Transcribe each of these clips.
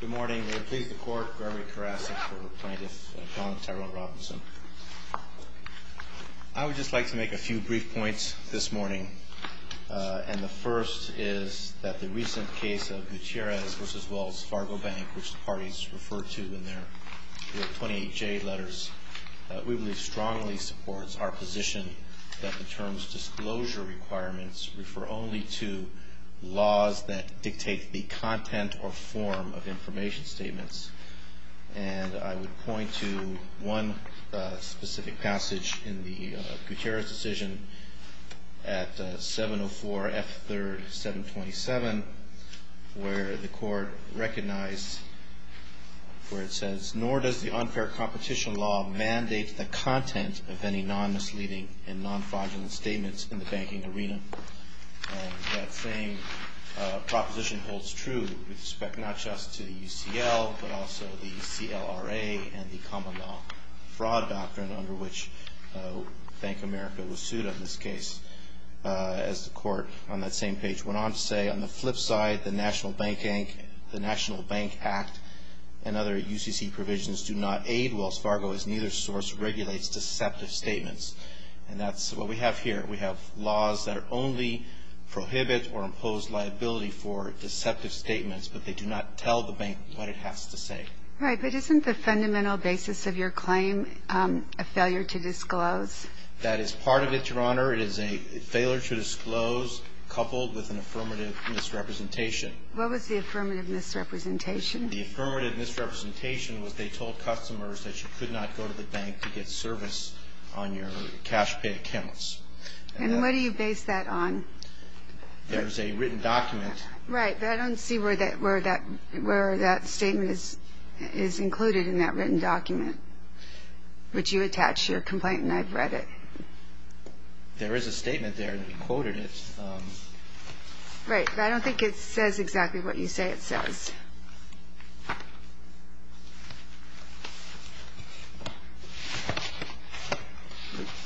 Good morning. We are pleased to court Gregory Karasik for Apprentice Don Tyrone Robinson. I would just like to make a few brief points this morning. And the first is that the recent case of Gutierrez v. Wells Fargo Bank, which the parties referred to in their 28J letters, we believe strongly supports our position that the term's disclosure requirements refer only to laws that dictate the content or form of information statements. And I would point to one specific passage in the Gutierrez decision at 704 F. 3rd, 727, where the court recognized where it says, nor does the unfair competition law mandate the content of any non-misleading and non-fraudulent statements in the banking arena. And that same proposition holds true with respect not just to UCL, but also the CLRA and the common law fraud doctrine under which Bank of America was sued on this case. As the court on that same page went on to say, on the flip side, the National Bank Act and other UCC provisions do not aid Wells Fargo as neither source regulates deceptive statements. And that's what we have here. We have laws that only prohibit or impose liability for deceptive statements, but they do not tell the bank what it has to say. Right. But isn't the fundamental basis of your claim a failure to disclose? That is part of it, Your Honor. It is a failure to disclose coupled with an affirmative misrepresentation. What was the affirmative misrepresentation? The affirmative misrepresentation was they told customers that you could not go to the bank to get service on your cash-paid accounts. And what do you base that on? There's a written document. Right, but I don't see where that statement is included in that written document, which you attach your complaint, and I've read it. There is a statement there, and you quoted it. Right, but I don't think it says exactly what you say it says.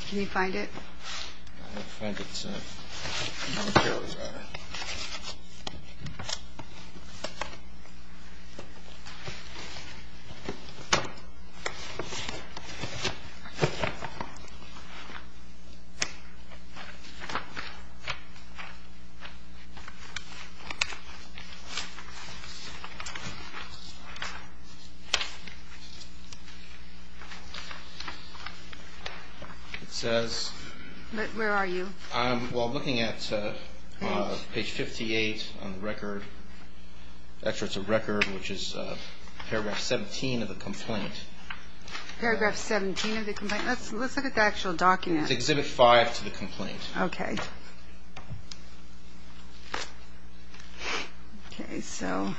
Can you find it? I can't find it, sir. It says... But where are you? Well, I'm looking at page 58 on the record, excerpts of record, which is paragraph 17 of the complaint. Paragraph 17 of the complaint? Let's look at the actual document. It's Exhibit 5 to the complaint. Okay, so...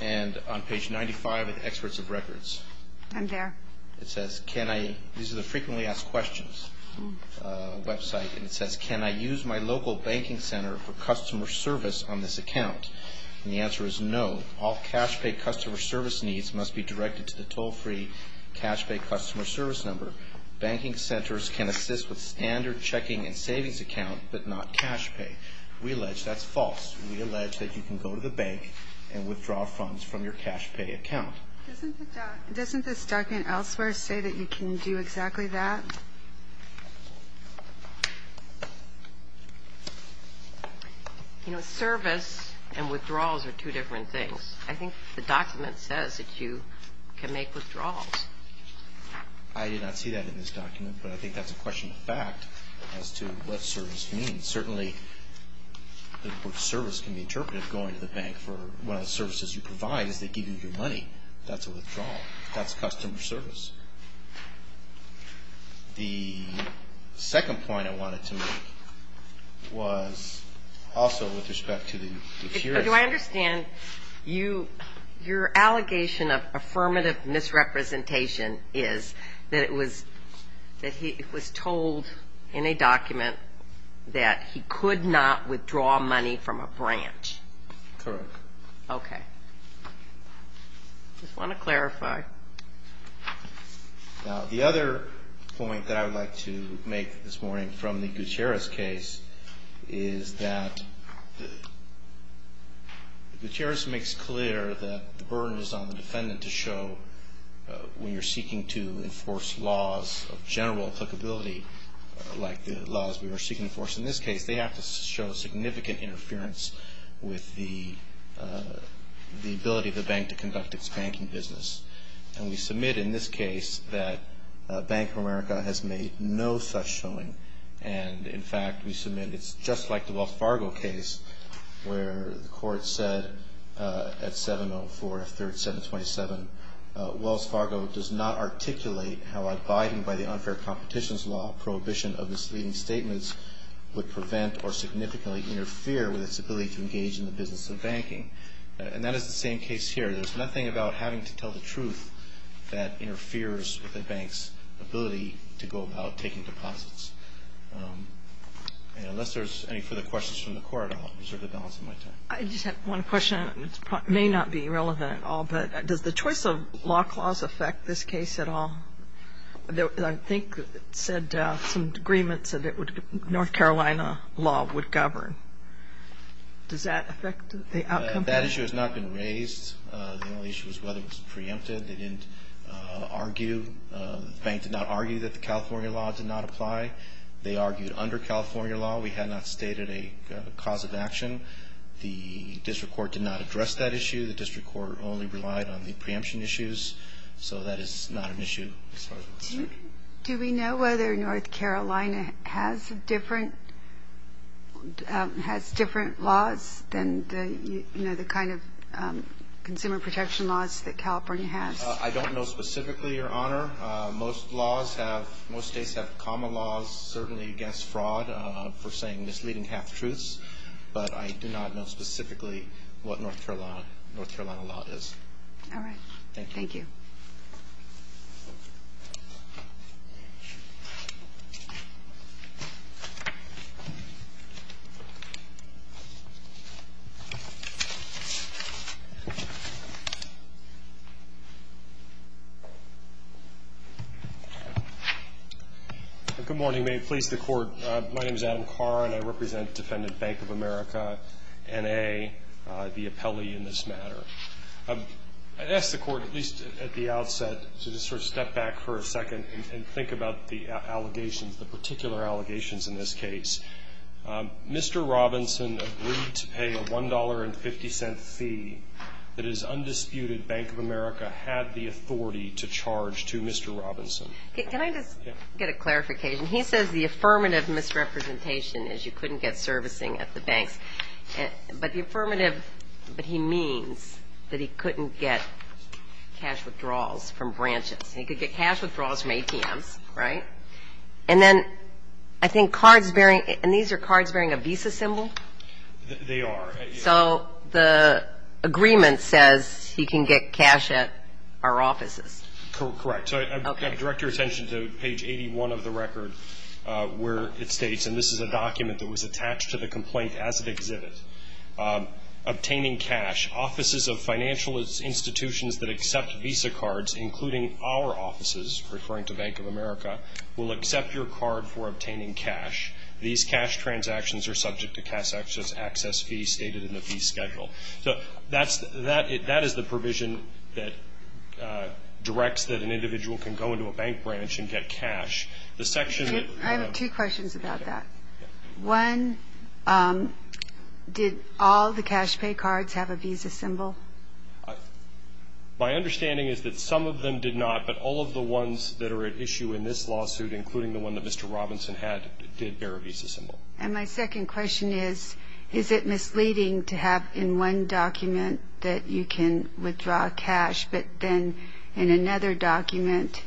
And on page 95 of the excerpts of records. I'm there. Doesn't this document elsewhere say that you can do exactly that? You know, service and withdrawals are two different things. I think the document says that you can make withdrawals. I did not see that in this document, but I think that's a question of fact as to what service means. Certainly, the word service can be interpreted going to the bank for one of the services you provide is they give you your money. That's a withdrawal. That's customer service. The second point I wanted to make was also with respect to the... Do I understand? Your allegation of affirmative misrepresentation is that it was told in a document that he could not withdraw money from a branch. Correct. Okay. I just want to clarify. Now, the other point that I would like to make this morning from the Gutierrez case is that Gutierrez makes clear that the burden is on the defendant to show when you're seeking to enforce laws of general applicability like the laws we were seeking to enforce. In this case, they have to show significant interference with the ability of the bank to conduct its banking business. And we submit in this case that Bank of America has made no such showing. And, in fact, we submit it's just like the Wells Fargo case where the court said at 704 F3rd 727, Wells Fargo does not articulate how abiding by the unfair competitions law prohibition of misleading statements would prevent or significantly interfere with its ability to engage in the business of banking. And that is the same case here. There's nothing about having to tell the truth that interferes with a bank's ability to go about taking deposits. And unless there's any further questions from the court, I'll reserve the balance of my time. I just have one question. It may not be relevant at all, but does the choice of law clause affect this case at all? I think it said some agreements that North Carolina law would govern. Does that affect the outcome? That issue has not been raised. The only issue is whether it was preempted. They didn't argue. The bank did not argue that the California law did not apply. They argued under California law we had not stated a cause of action. The district court did not address that issue. The district court only relied on the preemption issues. So that is not an issue as far as we're concerned. Do we know whether North Carolina has different laws than the kind of consumer protection laws that California has? I don't know specifically, Your Honor. Most states have common laws, certainly against fraud for saying misleading half-truths. But I do not know specifically what North Carolina law is. All right. Thank you. Good morning. May it please the Court, my name is Adam Carr and I represent Defendant Bank of America, N.A., the appellee in this matter. I asked the Court, at least at the outset, to just sort of step back for a second and think about the allegations, the particular allegations in this case. Mr. Robinson agreed to pay a $1.50 fee that his undisputed Bank of America had the authority to charge to Mr. Robinson. Can I just get a clarification? He says the affirmative misrepresentation is you couldn't get servicing at the banks. But the affirmative, but he means that he couldn't get cash withdrawals from branches. He could get cash withdrawals from banks. And these are cards bearing a visa symbol? They are. So the agreement says he can get cash at our offices. Correct. So I direct your attention to page 81 of the record where it states, and this is a document that was attached to the complaint as it exhibits, obtaining cash, offices of financial institutions that accept visa cards, including our offices, referring to Bank of America, will accept your card for obtaining cash. These cash transactions are subject to cash access fee stated in the fee schedule. So that's the provision that directs that an individual can go into a bank branch and get cash. The section that I have two questions about that. One, did all the cash pay cards have a visa symbol? My understanding is that some of them did not, but all of the ones that are at issue in this lawsuit, including the one that Mr. Robinson had, did bear a visa symbol. And my second question is, is it misleading to have in one document that you can withdraw cash, but then in another document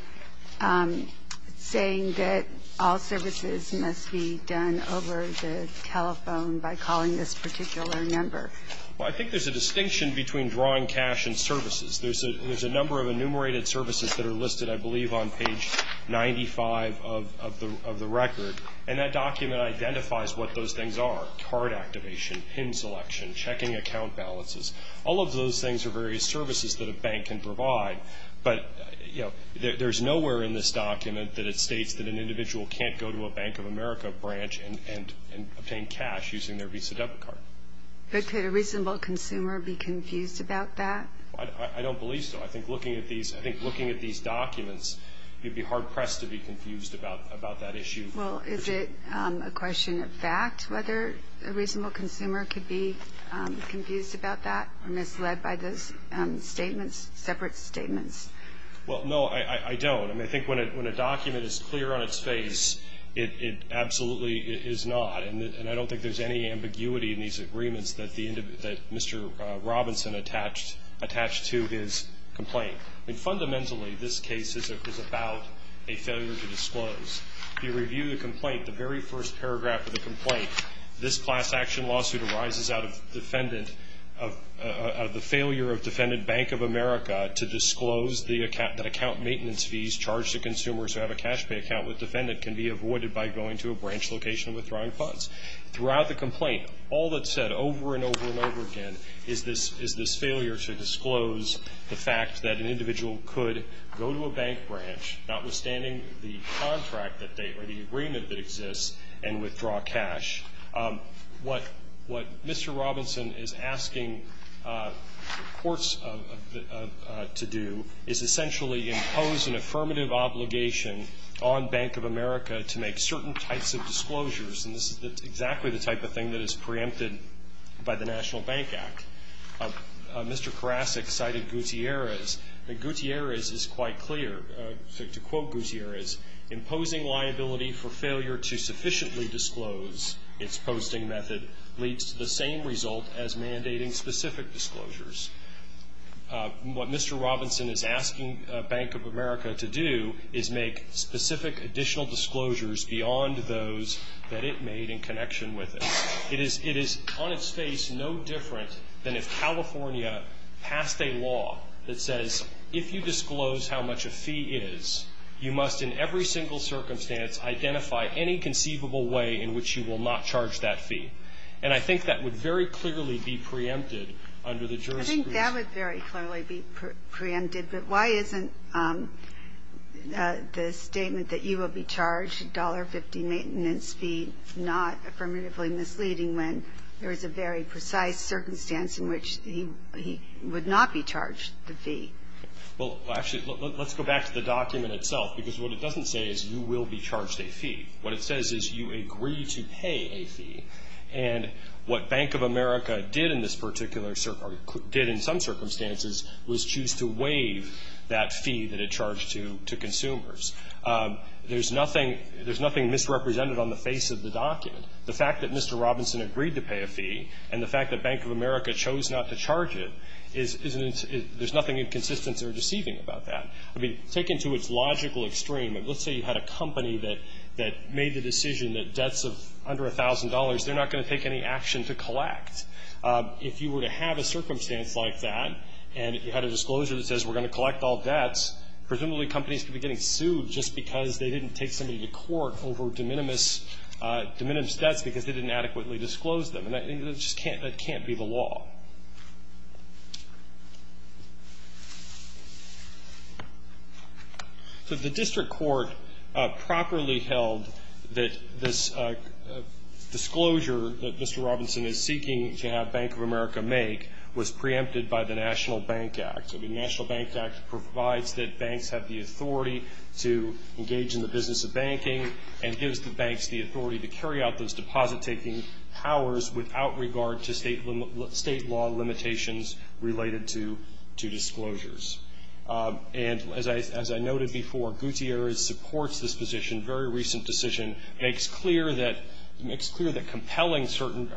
saying that all services must be done over the telephone by calling this particular number? Well, I think there's a distinction between drawing cash and services. There's a number of enumerated services that are listed, I believe, on page 95 of the record. And that document identifies what those things are, card activation, PIN selection, checking account balances. All of those things are various services that a bank can use. But could a reasonable consumer be confused about that? I don't believe so. I think looking at these documents, you'd be hard-pressed to be confused about that issue. Well, is it a question of fact whether a reasonable consumer could be confused about that or misled by those statements, separate statements? Well, no, I don't. I mean, I think when a document is clear on its face, it absolutely is not. And I don't think there's any ambiguity in these agreements that Mr. Robinson attached to his complaint. Fundamentally, this case is about a failure to disclose. If you review the complaint, the very first paragraph of the complaint, this class action lawsuit arises out of the failure of Defendant Bank of America to disclose that account maintenance fees charged to consumers who have a cash pay account with Defendant can be avoided by going to a branch location and withdrawing funds. Throughout the complaint, all that's said over and over and over again is this failure to disclose the fact that an individual could go to a bank branch, notwithstanding the contract or the agreement that exists, and withdraw cash. What Mr. Robinson is asking courts to do is essentially impose an affirmative obligation on Bank of America to make certain types of disclosures. And this is exactly the type of thing that is preempted by the National Bank Act. Mr. Karasik cited Gutierrez. Gutierrez is quite clear. To quote Gutierrez, imposing liability for failure to sufficiently disclose its posting method leads to the same result as mandating specific disclosures. What Mr. Robinson is asking Bank of America to do is make specific additional disclosures beyond those that it made in connection with it. It is on its face no different than if California passed a law that says if you disclose how much a fee is, you must in every single circumstance identify any conceivable way in which you will not charge that fee. And I think that would very clearly be preempted under the jurisprudence. I think that would very clearly be preempted, but why isn't the statement that you will be charged $1.50 maintenance fee not affirmatively misleading when there is a very precise circumstance in which he would not be charged the fee? Well, actually, let's go back to the document itself, because what it doesn't say is you will be charged a fee. What it says is you agree to pay a fee. And what Bank of America did in this particular circumstance, or did in some circumstances, was choose to waive that fee that it charged to consumers. There's nothing misrepresented on the face of the document. The fact that Mr. Robinson agreed to pay a fee and the fact that Bank of America chose not to charge it, there's nothing inconsistent or deceiving about that. I mean, taken to its logical extreme, let's say you had a company that made the decision that debts of under $1,000, they're not going to take any action to collect. If you were to have a circumstance like that and if you had a disclosure that says we're going to collect all debts, presumably companies could be getting sued just because they didn't take somebody to court over de minimis debts because they didn't adequately disclose them. And that just can't be the law. So the district court properly held that this disclosure that Mr. Robinson is seeking to have Bank of America make was preempted by the National Bank Act. I mean, the National Bank Act provides that banks have the authority to engage in the business of banking and gives the banks the authority to carry out those deposit-taking powers without regard to state limits or state law limitations related to disclosures. And as I noted before, Gutierrez supports this position, very recent decision, makes clear that compelling certain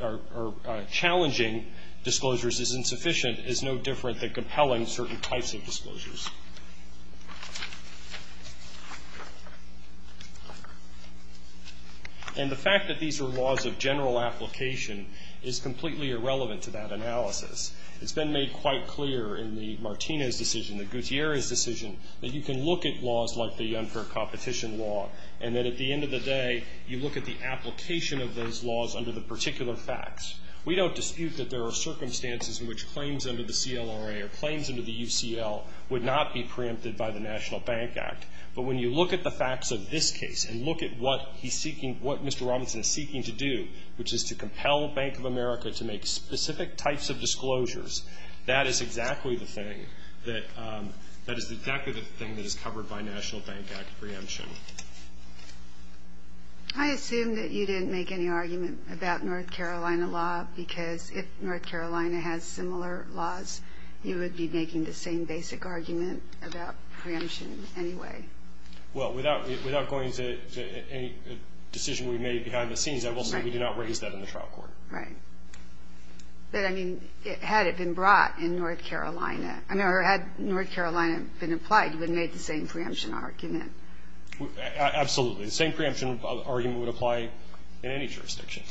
or challenging disclosures is insufficient is no different than compelling certain types of disclosures. And the fact that these are laws of general application is completely irrelevant to that analysis. It's been made quite clear in the Martinez decision, the Gutierrez decision, that you can look at laws like the unfair competition law and that at the end of the day you look at the application of those laws under the particular facts. We don't dispute that there are circumstances in which claims under the CLRA or claims under the UCL would not be preempted by the National Bank Act. But when you look at the facts of this case and look at what he's seeking, what Mr. Robinson is seeking to do, which is to compel Bank of America to make specific types of disclosures, that is exactly the thing that is covered by National Bank Act preemption. I assume that you didn't make any argument about North Carolina law because if North Carolina has similar laws, you would be making the same basic argument about preemption anyway. Well, without going to any decision we made behind the scenes, I will say we did not raise that in the trial court. Right. But, I mean, had it been brought in North Carolina, or had North Carolina been applied, you would have made the same preemption argument. Absolutely. The same preemption argument would apply in any jurisdiction.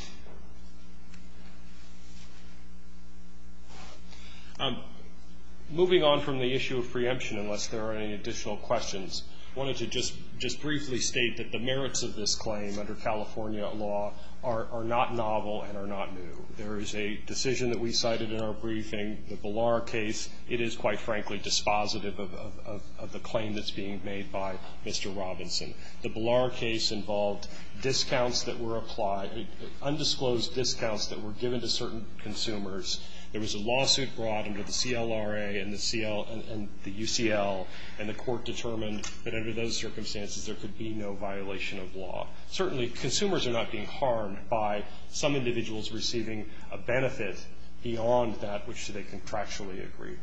Moving on from the issue of preemption, unless there are any additional questions, I wanted to just briefly state that the merits of this claim under California law are not novel and are not new. There is a decision that we cited in our briefing, the Ballar case, it is quite frankly dispositive of the claim that's being made by Mr. Robinson. The Ballar case involved discounts that were applied, undisclosed discounts that were given to certain consumers. There was a lawsuit brought under the CLRA and the UCL, and the court determined that under those circumstances there could be no violation of law. Certainly consumers are not being harmed by some individuals receiving a benefit beyond that which they contractually agree.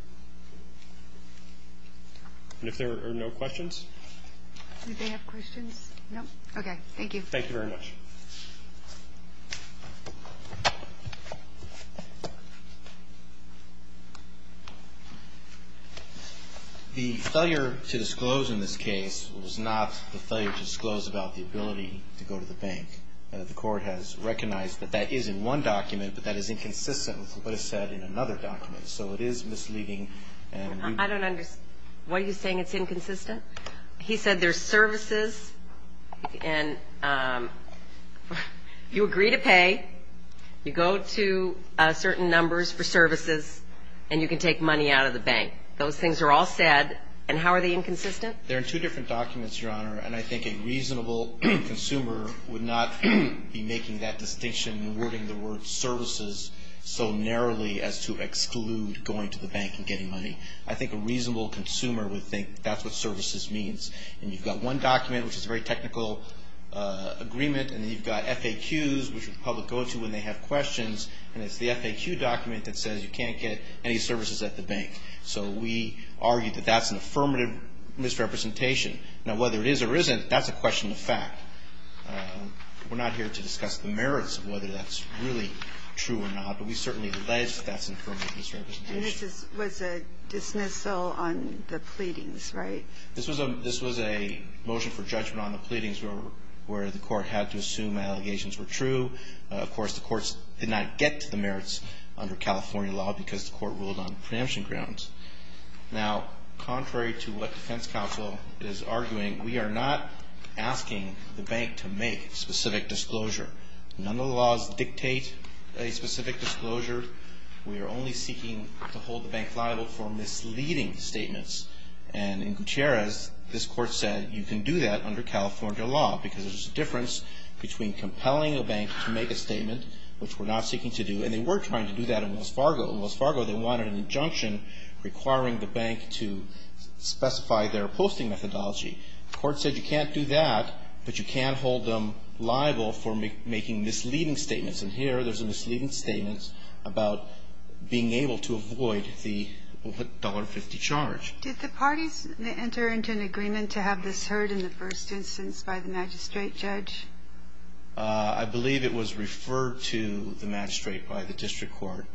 And if there are no questions? Do they have questions? No? Okay. Thank you. Thank you very much. The failure to disclose in this case was not the failure to disclose about the ability to go to the bank. The court has recognized that that is in one document, but that is inconsistent with what is said in another document. So it is misleading. I don't understand. What are you saying? It's inconsistent? He said there's services and you agree to pay, you go to certain numbers for services, and you can take money out of the bank. Those things are all said, and how are they inconsistent? They're in two different documents, Your Honor, and I think a reasonable consumer would not be making that distinction and wording the word services so narrowly as to exclude going to the bank and getting money. I think a reasonable consumer would think that's what services means. And you've got one document, which is a very technical agreement, and then you've got FAQs, which the public go to when they have questions, and it's the FAQ document that says you can't get any services at the bank. So we argue that that's an affirmative misrepresentation. Now, whether it is or isn't, that's a question of fact. We're not here to discuss the merits of whether that's really true or not, but we certainly allege that that's an affirmative misrepresentation. And this was a dismissal on the pleadings, right? This was a motion for judgment on the pleadings where the court had to assume allegations were true. Of course, the courts did not get to the merits under California law because the court ruled on preemption grounds. Now, contrary to what defense counsel is arguing, we are not asking the bank to make specific disclosure. None of the laws dictate a specific disclosure. We are only seeking to hold the bank liable for misleading statements. And in Gutierrez, this court said you can do that under California law because there's a difference between compelling a bank to make a statement, which we're not seeking to do, and they were trying to do that in Wells Fargo. In Wells Fargo, they wanted an injunction requiring the bank to specify their posting methodology. The court said you can't do that, but you can hold them liable for making misleading statements. And here there's a misleading statement about being able to avoid the $1.50 charge. Did the parties enter into an agreement to have this heard in the first instance by the magistrate judge? I believe it was referred to the magistrate by the district court.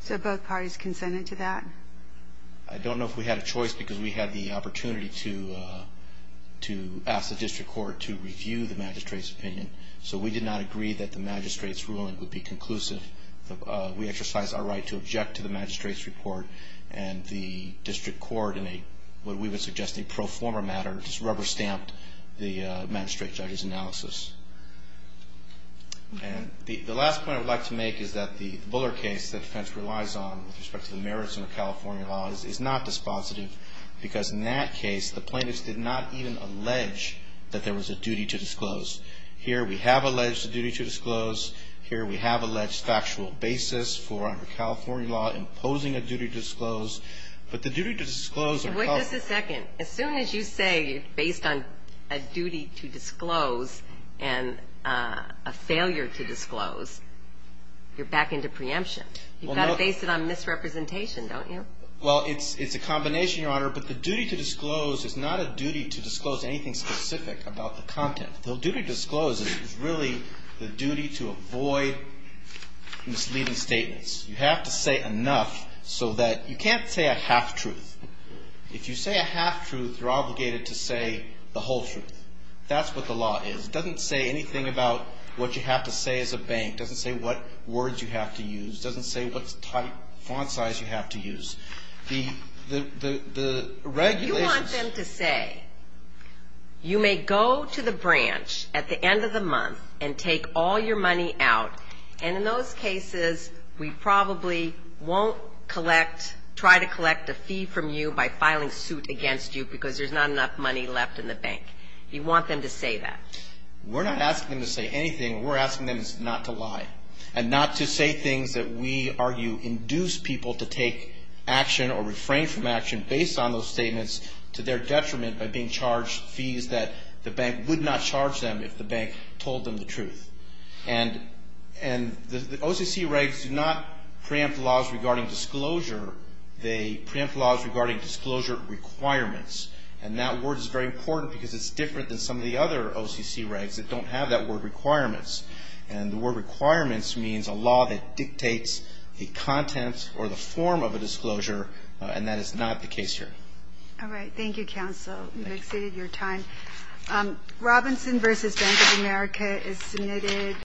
So both parties consented to that? I don't know if we had a choice because we had the opportunity to ask the district court to review the magistrate's opinion. So we did not agree that the magistrate's ruling would be conclusive. We exercised our right to object to the magistrate's report, and the district court, in what we would suggest a pro forma matter, just rubber-stamped the magistrate judge's analysis. And the last point I would like to make is that the Buller case that the defense relies on with respect to the merits of the California law is not dispositive because in that case, the plaintiffs did not even allege that there was a duty to disclose. Here we have alleged a duty to disclose. Here we have alleged factual basis for under California law imposing a duty to disclose. But the duty to disclose are covered. Wait just a second. As soon as you say based on a duty to disclose and a failure to disclose, you're back into preemption. You've got to base it on misrepresentation, don't you? Well, it's a combination, Your Honor, but the duty to disclose is not a duty to disclose anything specific about the content. The duty to disclose is really the duty to avoid misleading statements. You have to say enough so that you can't say a half-truth. If you say a half-truth, you're obligated to say the whole truth. That's what the law is. It doesn't say anything about what you have to say as a bank. It doesn't say what words you have to use. It doesn't say what font size you have to use. You want them to say, you may go to the branch at the end of the month and take all your money out, and in those cases, we probably won't try to collect a fee from you by filing suit against you because there's not enough money left in the bank. You want them to say that. We're not asking them to say anything. We're asking them not to lie and not to say things that we argue induce people to take action or refrain from action based on those statements to their detriment by being charged fees that the bank would not charge them if the bank told them the truth. And the OCC regs do not preempt laws regarding disclosure. They preempt laws regarding disclosure requirements. And that word is very important because it's different than some of the other OCC regs that don't have that word requirements. And the word requirements means a law that dictates a content or the form of a disclosure, and that is not the case here. All right. Thank you, counsel. We've exceeded your time. Robinson v. Bank of America is submitted.